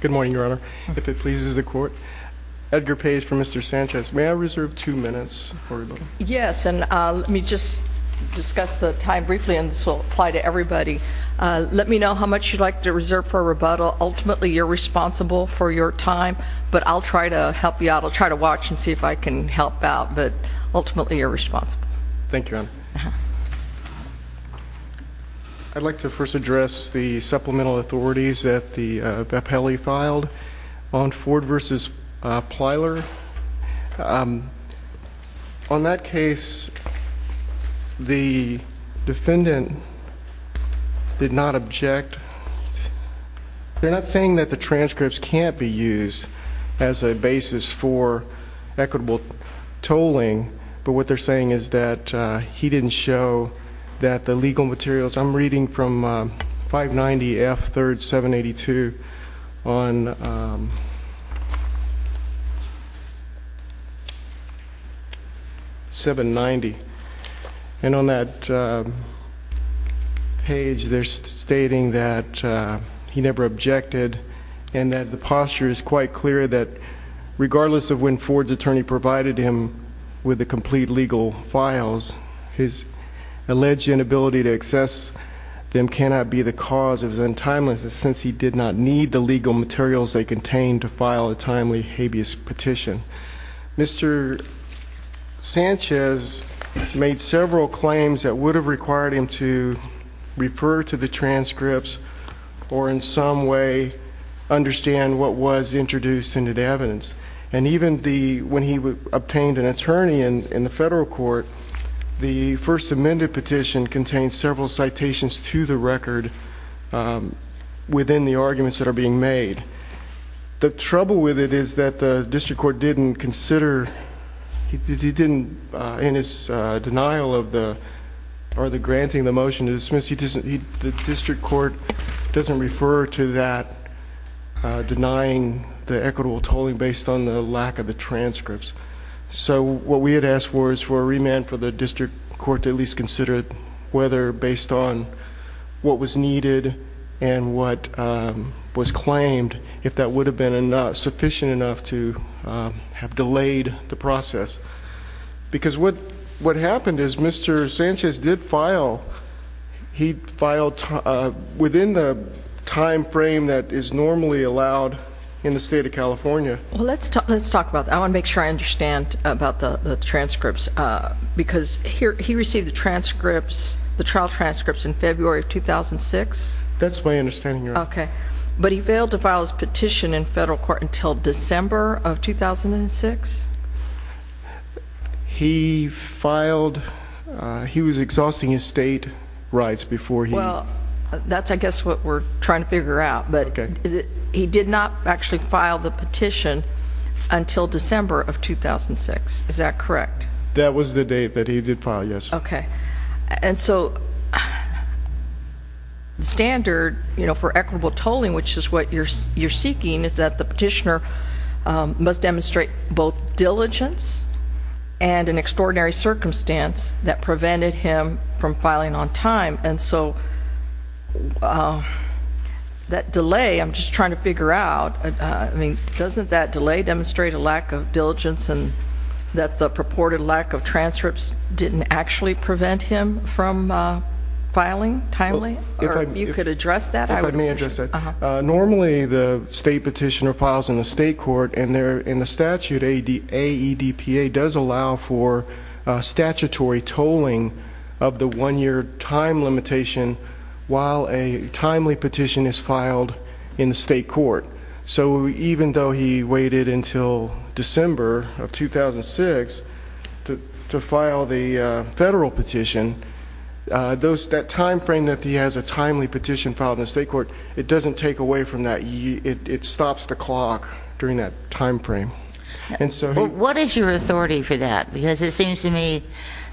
Good morning, Your Honor. If it pleases the court, Edgar Pace for Mr. Sanchez. May I reserve two minutes for rebuttal? Yes, and let me just discuss the time briefly and this will apply to everybody. Let me know how much you'd like to reserve for rebuttal. Ultimately, you're responsible for your time, but I'll try to help you out. I'll try to watch and see if I can help out, but ultimately you're responsible. Thank you, Your Honor. I'd like to first address the supplemental authorities that Beppelli filed on Ford v. Plyler. On that case, the defendant did not object. They're not saying that the transcripts can't be used as a basis for equitable tolling, but what they're saying is that he didn't show that the legal materials, I'm reading from 590 F. 3rd 782 on 790. And on that page, they're stating that he never objected and that the posture is quite clear that regardless of when Ford's attorney provided him with the complete legal files, his alleged inability to access them cannot be the cause of his untimeliness since he did not need the legal materials they contained to file a timely habeas petition. Mr. Sanchez made several claims that would have required him to refer to the transcripts or in some way understand what was introduced into the evidence. And even when he obtained an attorney in the federal court, the first amended petition contained several citations to the record within the arguments that are being made. The trouble with it is that the district court didn't consider, in his denial of the granting of the motion to dismiss, the district court doesn't refer to that denying the equitable tolling based on the lack of the transcripts. So what we had asked for is for a remand for the district court to at least consider whether based on what was needed and what was claimed, if that would have been sufficient enough to have delayed the process. Because what happened is Mr. Sanchez did file, he filed within the time frame that is normally allowed in the state of California. Well, let's talk about that. I want to make sure I understand about the transcripts, because he received the transcripts, the trial transcripts in February of 2006? That's my understanding, Your Honor. Okay. But he failed to file his petition in federal court until December of 2006? He filed, he was exhausting his state rights before he- Well, that's I guess what we're trying to figure out. But he did not actually file the petition until December of 2006, is that correct? That was the date that he did file, yes. Okay. And so the standard for equitable tolling, which is what you're seeking, is that the petitioner must demonstrate both diligence and an extraordinary circumstance that prevented him from filing on time. And so that delay, I'm just trying to figure out, doesn't that delay demonstrate a lack of diligence and that the purported lack of transcripts didn't actually prevent him from filing timely? Or you could address that? If I may address that. Normally, the state petitioner files in the state court, and in the statute, AEDPA does allow for statutory tolling of the one-year time limitation while a timely petition is filed in the state court. So even though he waited until December of 2006 to file the federal petition, that time frame that he has a timely petition filed in the state court, it doesn't take away from that. It stops the clock during that time frame. What is your authority for that? Because it seems to me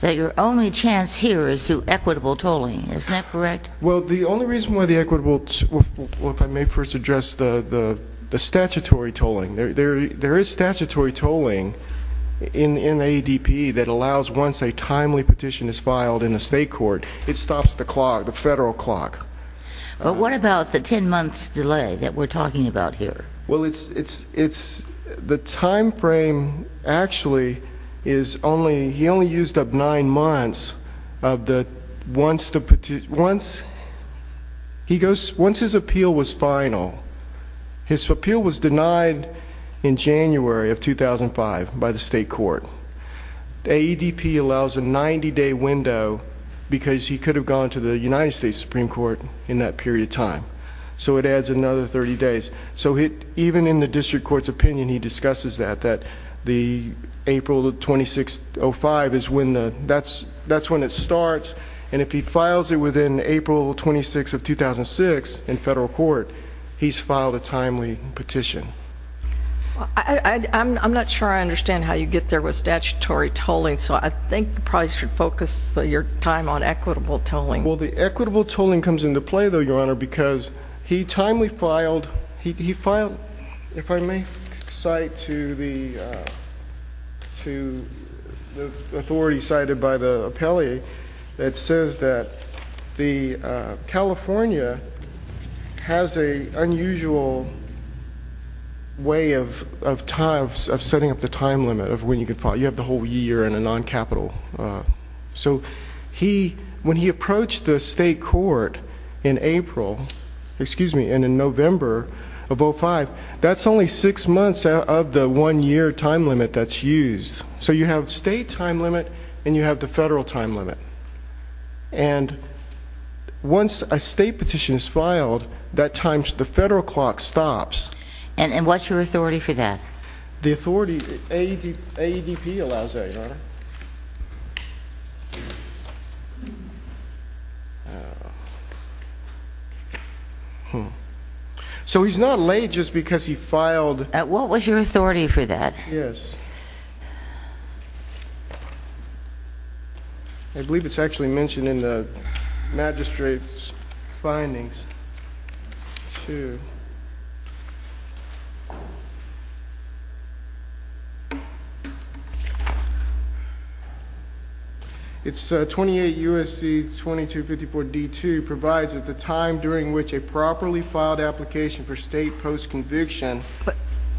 that your only chance here is to equitable tolling. Isn't that correct? Well, the only reason why the equitable, if I may first address the statutory tolling. There is statutory tolling in AEDP that allows once a timely petition is filed in the state court, it stops the clock, the federal clock. But what about the ten months delay that we're talking about here? Well, the time frame actually, he only used up nine months. Once his appeal was final, his appeal was denied in January of 2005 by the state court. The AEDP allows a 90-day window because he could have gone to the United States Supreme Court in that period of time. So it adds another 30 days. So even in the district court's opinion, he discusses that, that the April of 2006 is when it starts. And if he files it within April 26 of 2006 in federal court, he's filed a timely petition. I'm not sure I understand how you get there with statutory tolling. So I think you probably should focus your time on equitable tolling. Because he timely filed, he filed, if I may cite to the authority cited by the appellee. It says that California has an unusual way of setting up the time limit of when you can file. You have the whole year in a non-capital. So when he approached the state court in April, excuse me, and in November of 2005, that's only six months of the one-year time limit that's used. So you have state time limit and you have the federal time limit. And once a state petition is filed, that time, the federal clock stops. And what's your authority for that? So he's not late just because he filed. What was your authority for that? Yes. I believe it's actually mentioned in the magistrate's findings too. It's 28 U.S.C. 2254 D2 provides at the time during which a properly filed application for state post-conviction,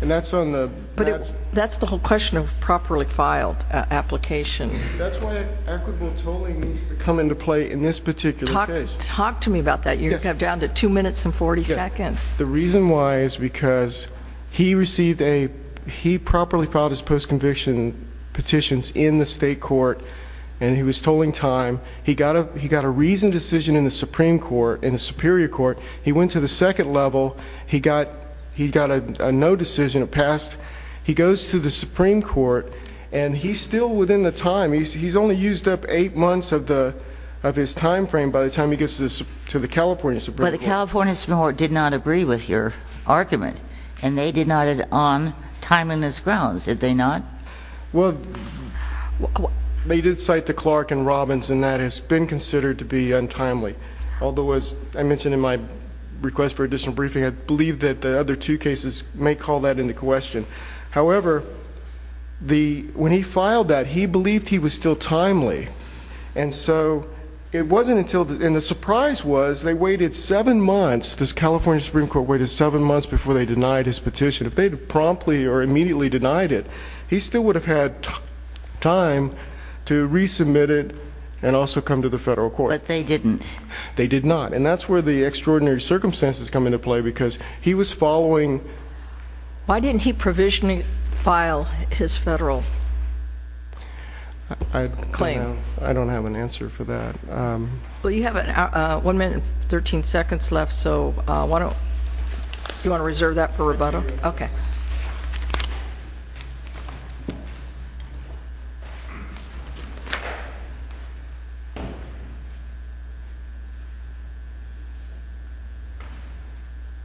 and that's on the- But that's the whole question of properly filed application. That's why equitable tolling needs to come into play in this particular case. Talk to me about that. You have down to two minutes and 40 seconds. The reason why is because he received a, he properly filed his post-conviction petitions in the state court, and he was tolling time. He got a reasoned decision in the Supreme Court, in the Superior Court. He went to the second level. He got a no decision, it passed. He goes to the Supreme Court, and he's still within the time. He's only used up eight months of his time frame by the time he gets to the California Supreme Court. But the California Supreme Court did not agree with your argument, and they did not on timeliness grounds, did they not? Well, they did cite the Clark and Robbins, and that has been considered to be untimely. Although, as I mentioned in my request for additional briefing, I believe that the other two cases may call that into question. However, when he filed that, he believed he was still timely. And so, it wasn't until, and the surprise was, they waited seven months. This California Supreme Court waited seven months before they denied his petition. If they had promptly or immediately denied it, he still would have had time to resubmit it and also come to the federal court. But they didn't. They did not. And that's where the extraordinary circumstances come into play, because he was following- Why didn't he provisionally file his federal claim? I don't have an answer for that. Well, you have one minute and 13 seconds left, so why don't you want to reserve that for rebuttal? Okay.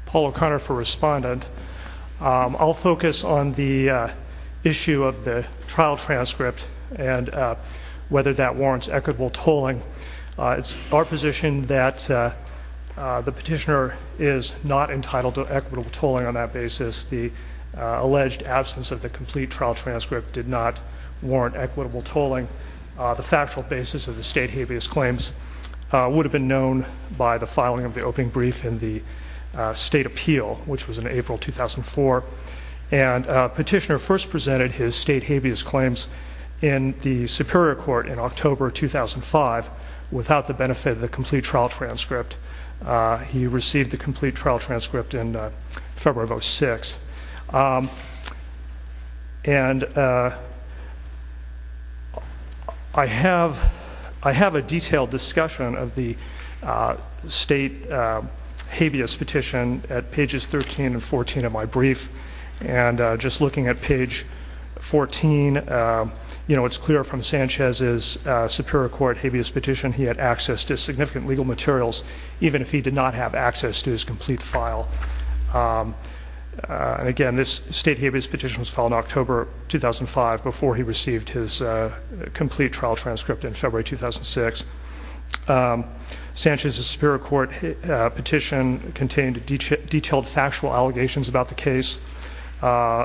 Paul O'Connor for Respondent. I'll focus on the issue of the trial transcript and whether that warrants equitable tolling. It's our position that the petitioner is not entitled to equitable tolling on that basis. The alleged absence of the complete trial transcript did not warrant equitable tolling. The factual basis of the state habeas claims would have been known by the filing of the opening brief in the state appeal, which was in April 2004. And petitioner first presented his state habeas claims in the Superior Court in October 2005 without the benefit of the complete trial transcript. He received the complete trial transcript in February of 06. And I have a detailed discussion of the state habeas petition at pages 13 and 14 of my brief. And just looking at page 14, it's clear from Sanchez's Superior Court habeas petition, he had access to significant legal materials, even if he did not have access to his complete file. And again, this state habeas petition was filed in October 2005 before he received his complete trial transcript in February 2006. Sanchez's Superior Court petition contained detailed factual allegations about the case.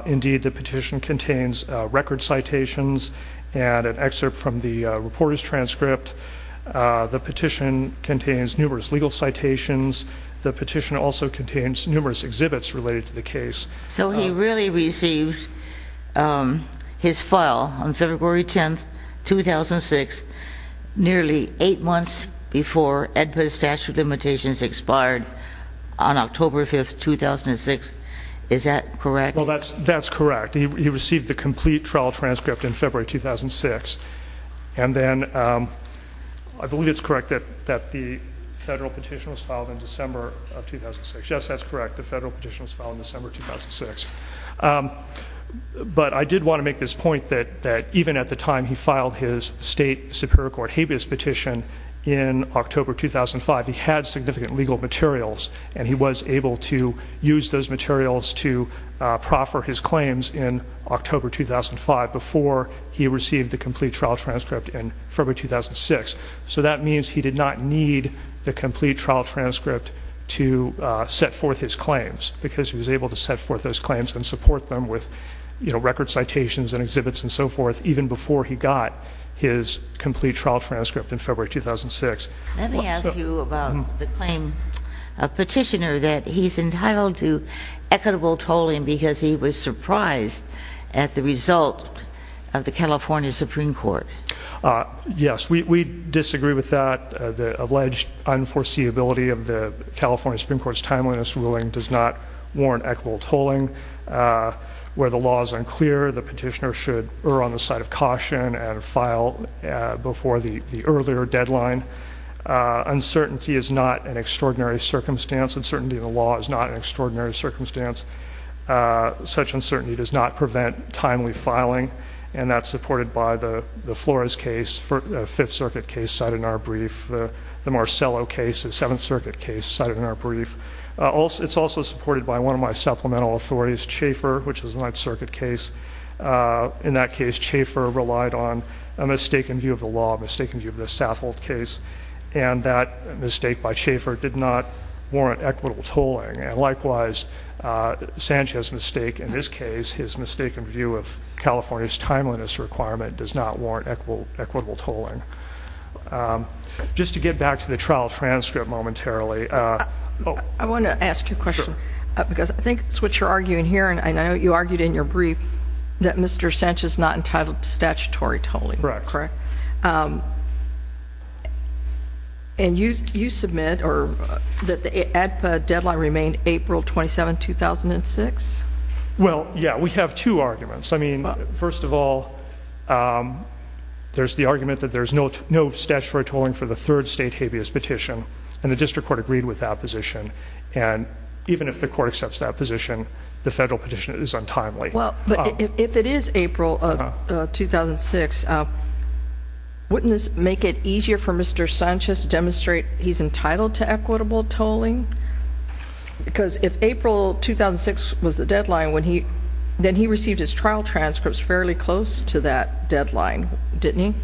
Indeed, the petition contains record citations and an excerpt from the reporter's transcript. The petition contains numerous legal citations. The petition also contains numerous exhibits related to the case. So he really received his file on February 10, 2006, nearly eight months before statute of limitations expired on October 5, 2006. Is that correct? Well, that's correct. He received the complete trial transcript in February 2006. And then I believe it's correct that the federal petition was filed in December of 2006. Yes, that's correct. The federal petition was filed in December 2006. But I did want to make this point that even at the time he filed his state Superior Court habeas petition in October 2005, he had significant legal materials. And he was able to use those materials to proffer his claims in October 2005 before he received the complete trial transcript in February 2006. So that means he did not need the complete trial transcript to set forth his claims. Because he was able to set forth those claims and support them with record citations and exhibits and so forth. Even before he got his complete trial transcript in February 2006. Let me ask you about the claim. A petitioner that he's entitled to equitable tolling because he was surprised at the result of the California Supreme Court. Yes, we disagree with that. The alleged unforeseeability of the California Supreme Court's timeliness ruling does not warrant equitable tolling. Where the law is unclear, the petitioner should err on the side of caution and file before the earlier deadline. Uncertainty is not an extraordinary circumstance. Uncertainty in the law is not an extraordinary circumstance. Such uncertainty does not prevent timely filing. And that's supported by the Flores case, the Fifth Circuit case cited in our brief. The Marcello case, the Seventh Circuit case cited in our brief. It's also supported by one of my supplemental authorities, Chafer, which is a Ninth Circuit case. In that case, Chafer relied on a mistaken view of the law, a mistaken view of the Saffold case. And that mistake by Chafer did not warrant equitable tolling. And likewise, Sanchez's mistake in this case, his mistaken view of California's timeliness requirement does not warrant equitable tolling. Just to get back to the trial transcript momentarily. Oh. I want to ask you a question. Sure. Because I think it's what you're arguing here. And I know you argued in your brief that Mr. Sanchez is not entitled to statutory tolling. Correct. Correct. And you submit that the ADPA deadline remained April 27, 2006? Well, yeah. We have two arguments. I mean, first of all, there's the argument that there's no statutory tolling for the district court agreed with that position. And even if the court accepts that position, the federal petition is untimely. Well, but if it is April of 2006, wouldn't this make it easier for Mr. Sanchez to demonstrate he's entitled to equitable tolling? Because if April 2006 was the deadline, then he received his trial transcripts fairly close to that deadline, didn't he?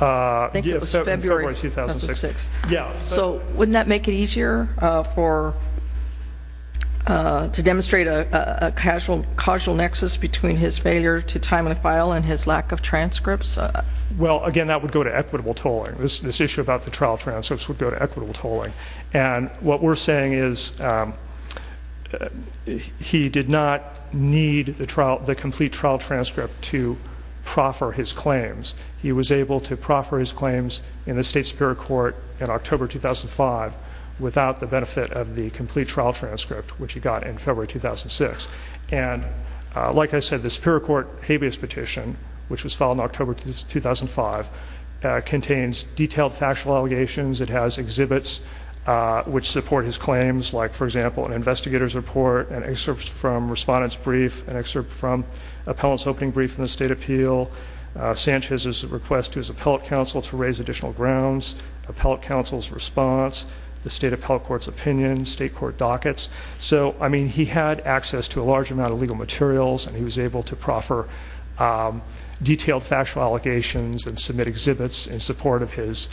I think it was February 2006. Yeah. So wouldn't that make it easier to demonstrate a casual nexus between his failure to time the file and his lack of transcripts? Well, again, that would go to equitable tolling. This issue about the trial transcripts would go to equitable tolling. And what we're saying is he did not need the complete trial transcript to proffer his claims. He was able to proffer his claims in the state superior court in October 2005 without the benefit of the complete trial transcript, which he got in February 2006. And like I said, the superior court habeas petition, which was filed in October 2005, contains detailed factual allegations. It has exhibits which support his claims, like, for example, an investigator's report, an excerpt from respondent's brief, an excerpt from appellant's opening brief in the state appeal, Sanchez's request to his appellate counsel to raise additional grounds, appellate counsel's response, the state appellate court's opinion, state court dockets. So, I mean, he had access to a large amount of legal materials. And he was able to proffer detailed factual allegations and submit exhibits in support of his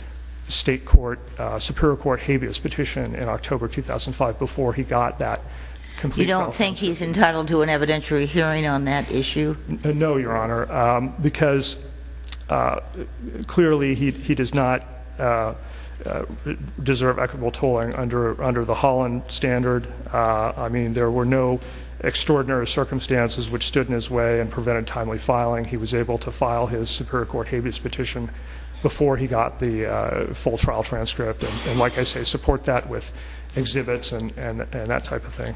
state superior court habeas petition in October 2005 before he got that complete trial. You don't think he's entitled to an evidentiary hearing on that issue? No, your honor, because clearly he does not deserve equitable tolling under the Holland standard. I mean, there were no extraordinary circumstances which stood in his way and prevented timely filing. He was able to file his superior court habeas petition before he got the full trial transcript. And like I say, support that with exhibits and that type of thing.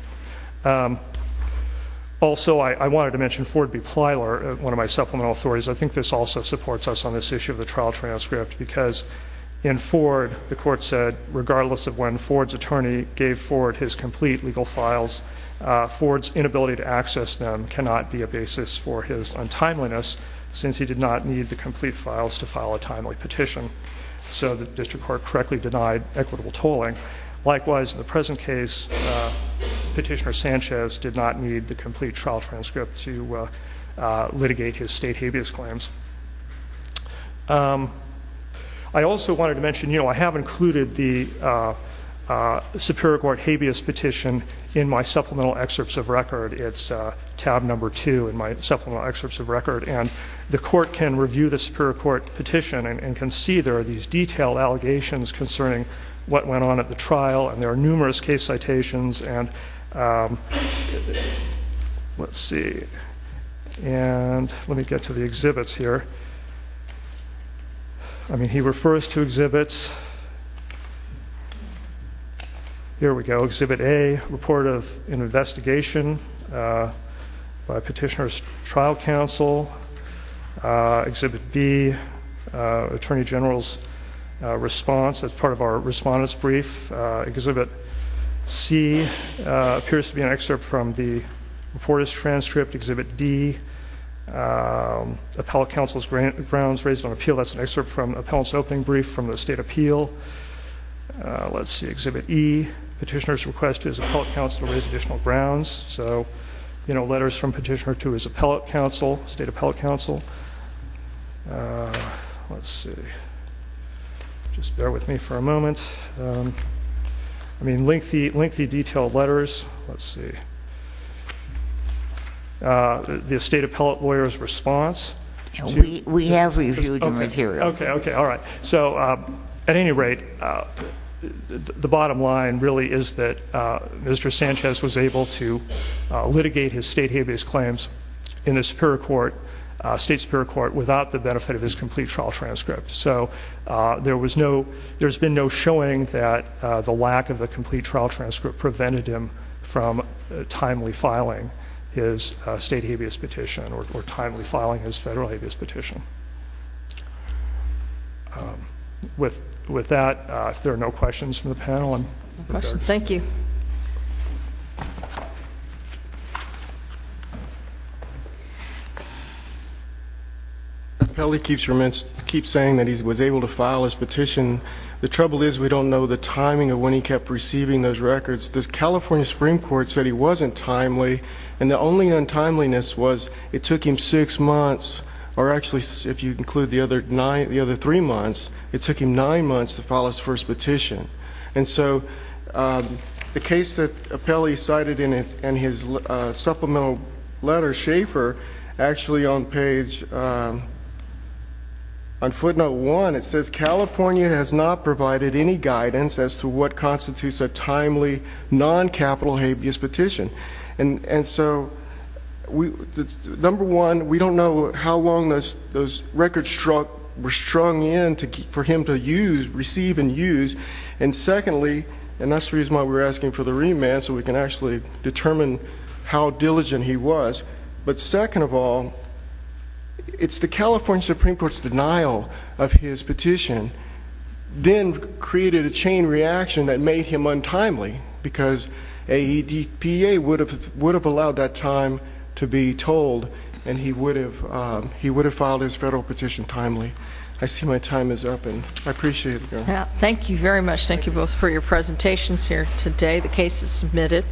Also, I wanted to mention Ford v. Plyler, one of my supplemental authorities. I think this also supports us on this issue of the trial transcript because in Ford, the court said regardless of when Ford's attorney gave Ford his complete legal files, Ford's inability to access them cannot be a basis for his untimeliness since he did not need the complete files to file a timely petition. So the district court correctly denied equitable tolling. Likewise, in the present case, Petitioner Sanchez did not need the complete trial transcript to litigate his state habeas claims. I also wanted to mention I have included the superior court habeas petition in my supplemental excerpts of record. It's tab number two in my supplemental excerpts of record. And the court can review the superior court petition and can see there are these detailed allegations concerning what went on at the trial. And there are numerous case citations. And let's see. And let me get to the exhibits here. I mean, he refers to exhibits. Here we go. Exhibit A, report of an investigation by Petitioner's trial counsel. Exhibit B, attorney general's response as part of our respondent's brief. Exhibit C appears to be an excerpt from the reporter's transcript. Exhibit D, appellate counsel's grounds raised on appeal. That's an excerpt from appellant's opening brief from the state appeal. Let's see. Exhibit E, Petitioner's request to his appellate counsel to raise additional grounds. So letters from Petitioner to his appellate counsel, state appellate counsel. Let's see. Just bear with me for a moment. I mean, lengthy detailed letters. Let's see. The state appellate lawyer's response. We have reviewed the materials. OK, OK. All right. So at any rate, the bottom line really is that Mr. Sanchez was able to litigate his state habeas claims in the state superior court without the benefit of his complete trial transcript. So there's been no showing that the lack of the complete trial transcript prevented him from timely filing his state habeas petition or timely filing his federal habeas petition. With that, if there are no questions from the panel. No questions. Thank you. Appellate keeps saying that he was able to file his petition. The trouble is we don't know the timing of when he kept receiving those records. The California Supreme Court said he wasn't timely. And the only untimeliness was it took him six months or actually if you include the other three months, it took him nine months to file his first petition. And so the case that Appellee cited in his supplemental letter, Schaffer, actually on page on footnote one, it says California has not provided any guidance as to what constitutes a timely non-capital habeas petition. And so number one, we don't know how long those records were strung in for him to use, receive and use. And secondly, and that's the reason why we're asking for the remand so we can actually determine how diligent he was. But second of all, it's the California Supreme Court's denial of his petition then created a chain reaction that made him untimely because AEDPA would have allowed that time to be told and he would have filed his federal petition timely. I see my time is up and I appreciate it. Thank you very much. Thank you both for your presentations here today. The case is submitted.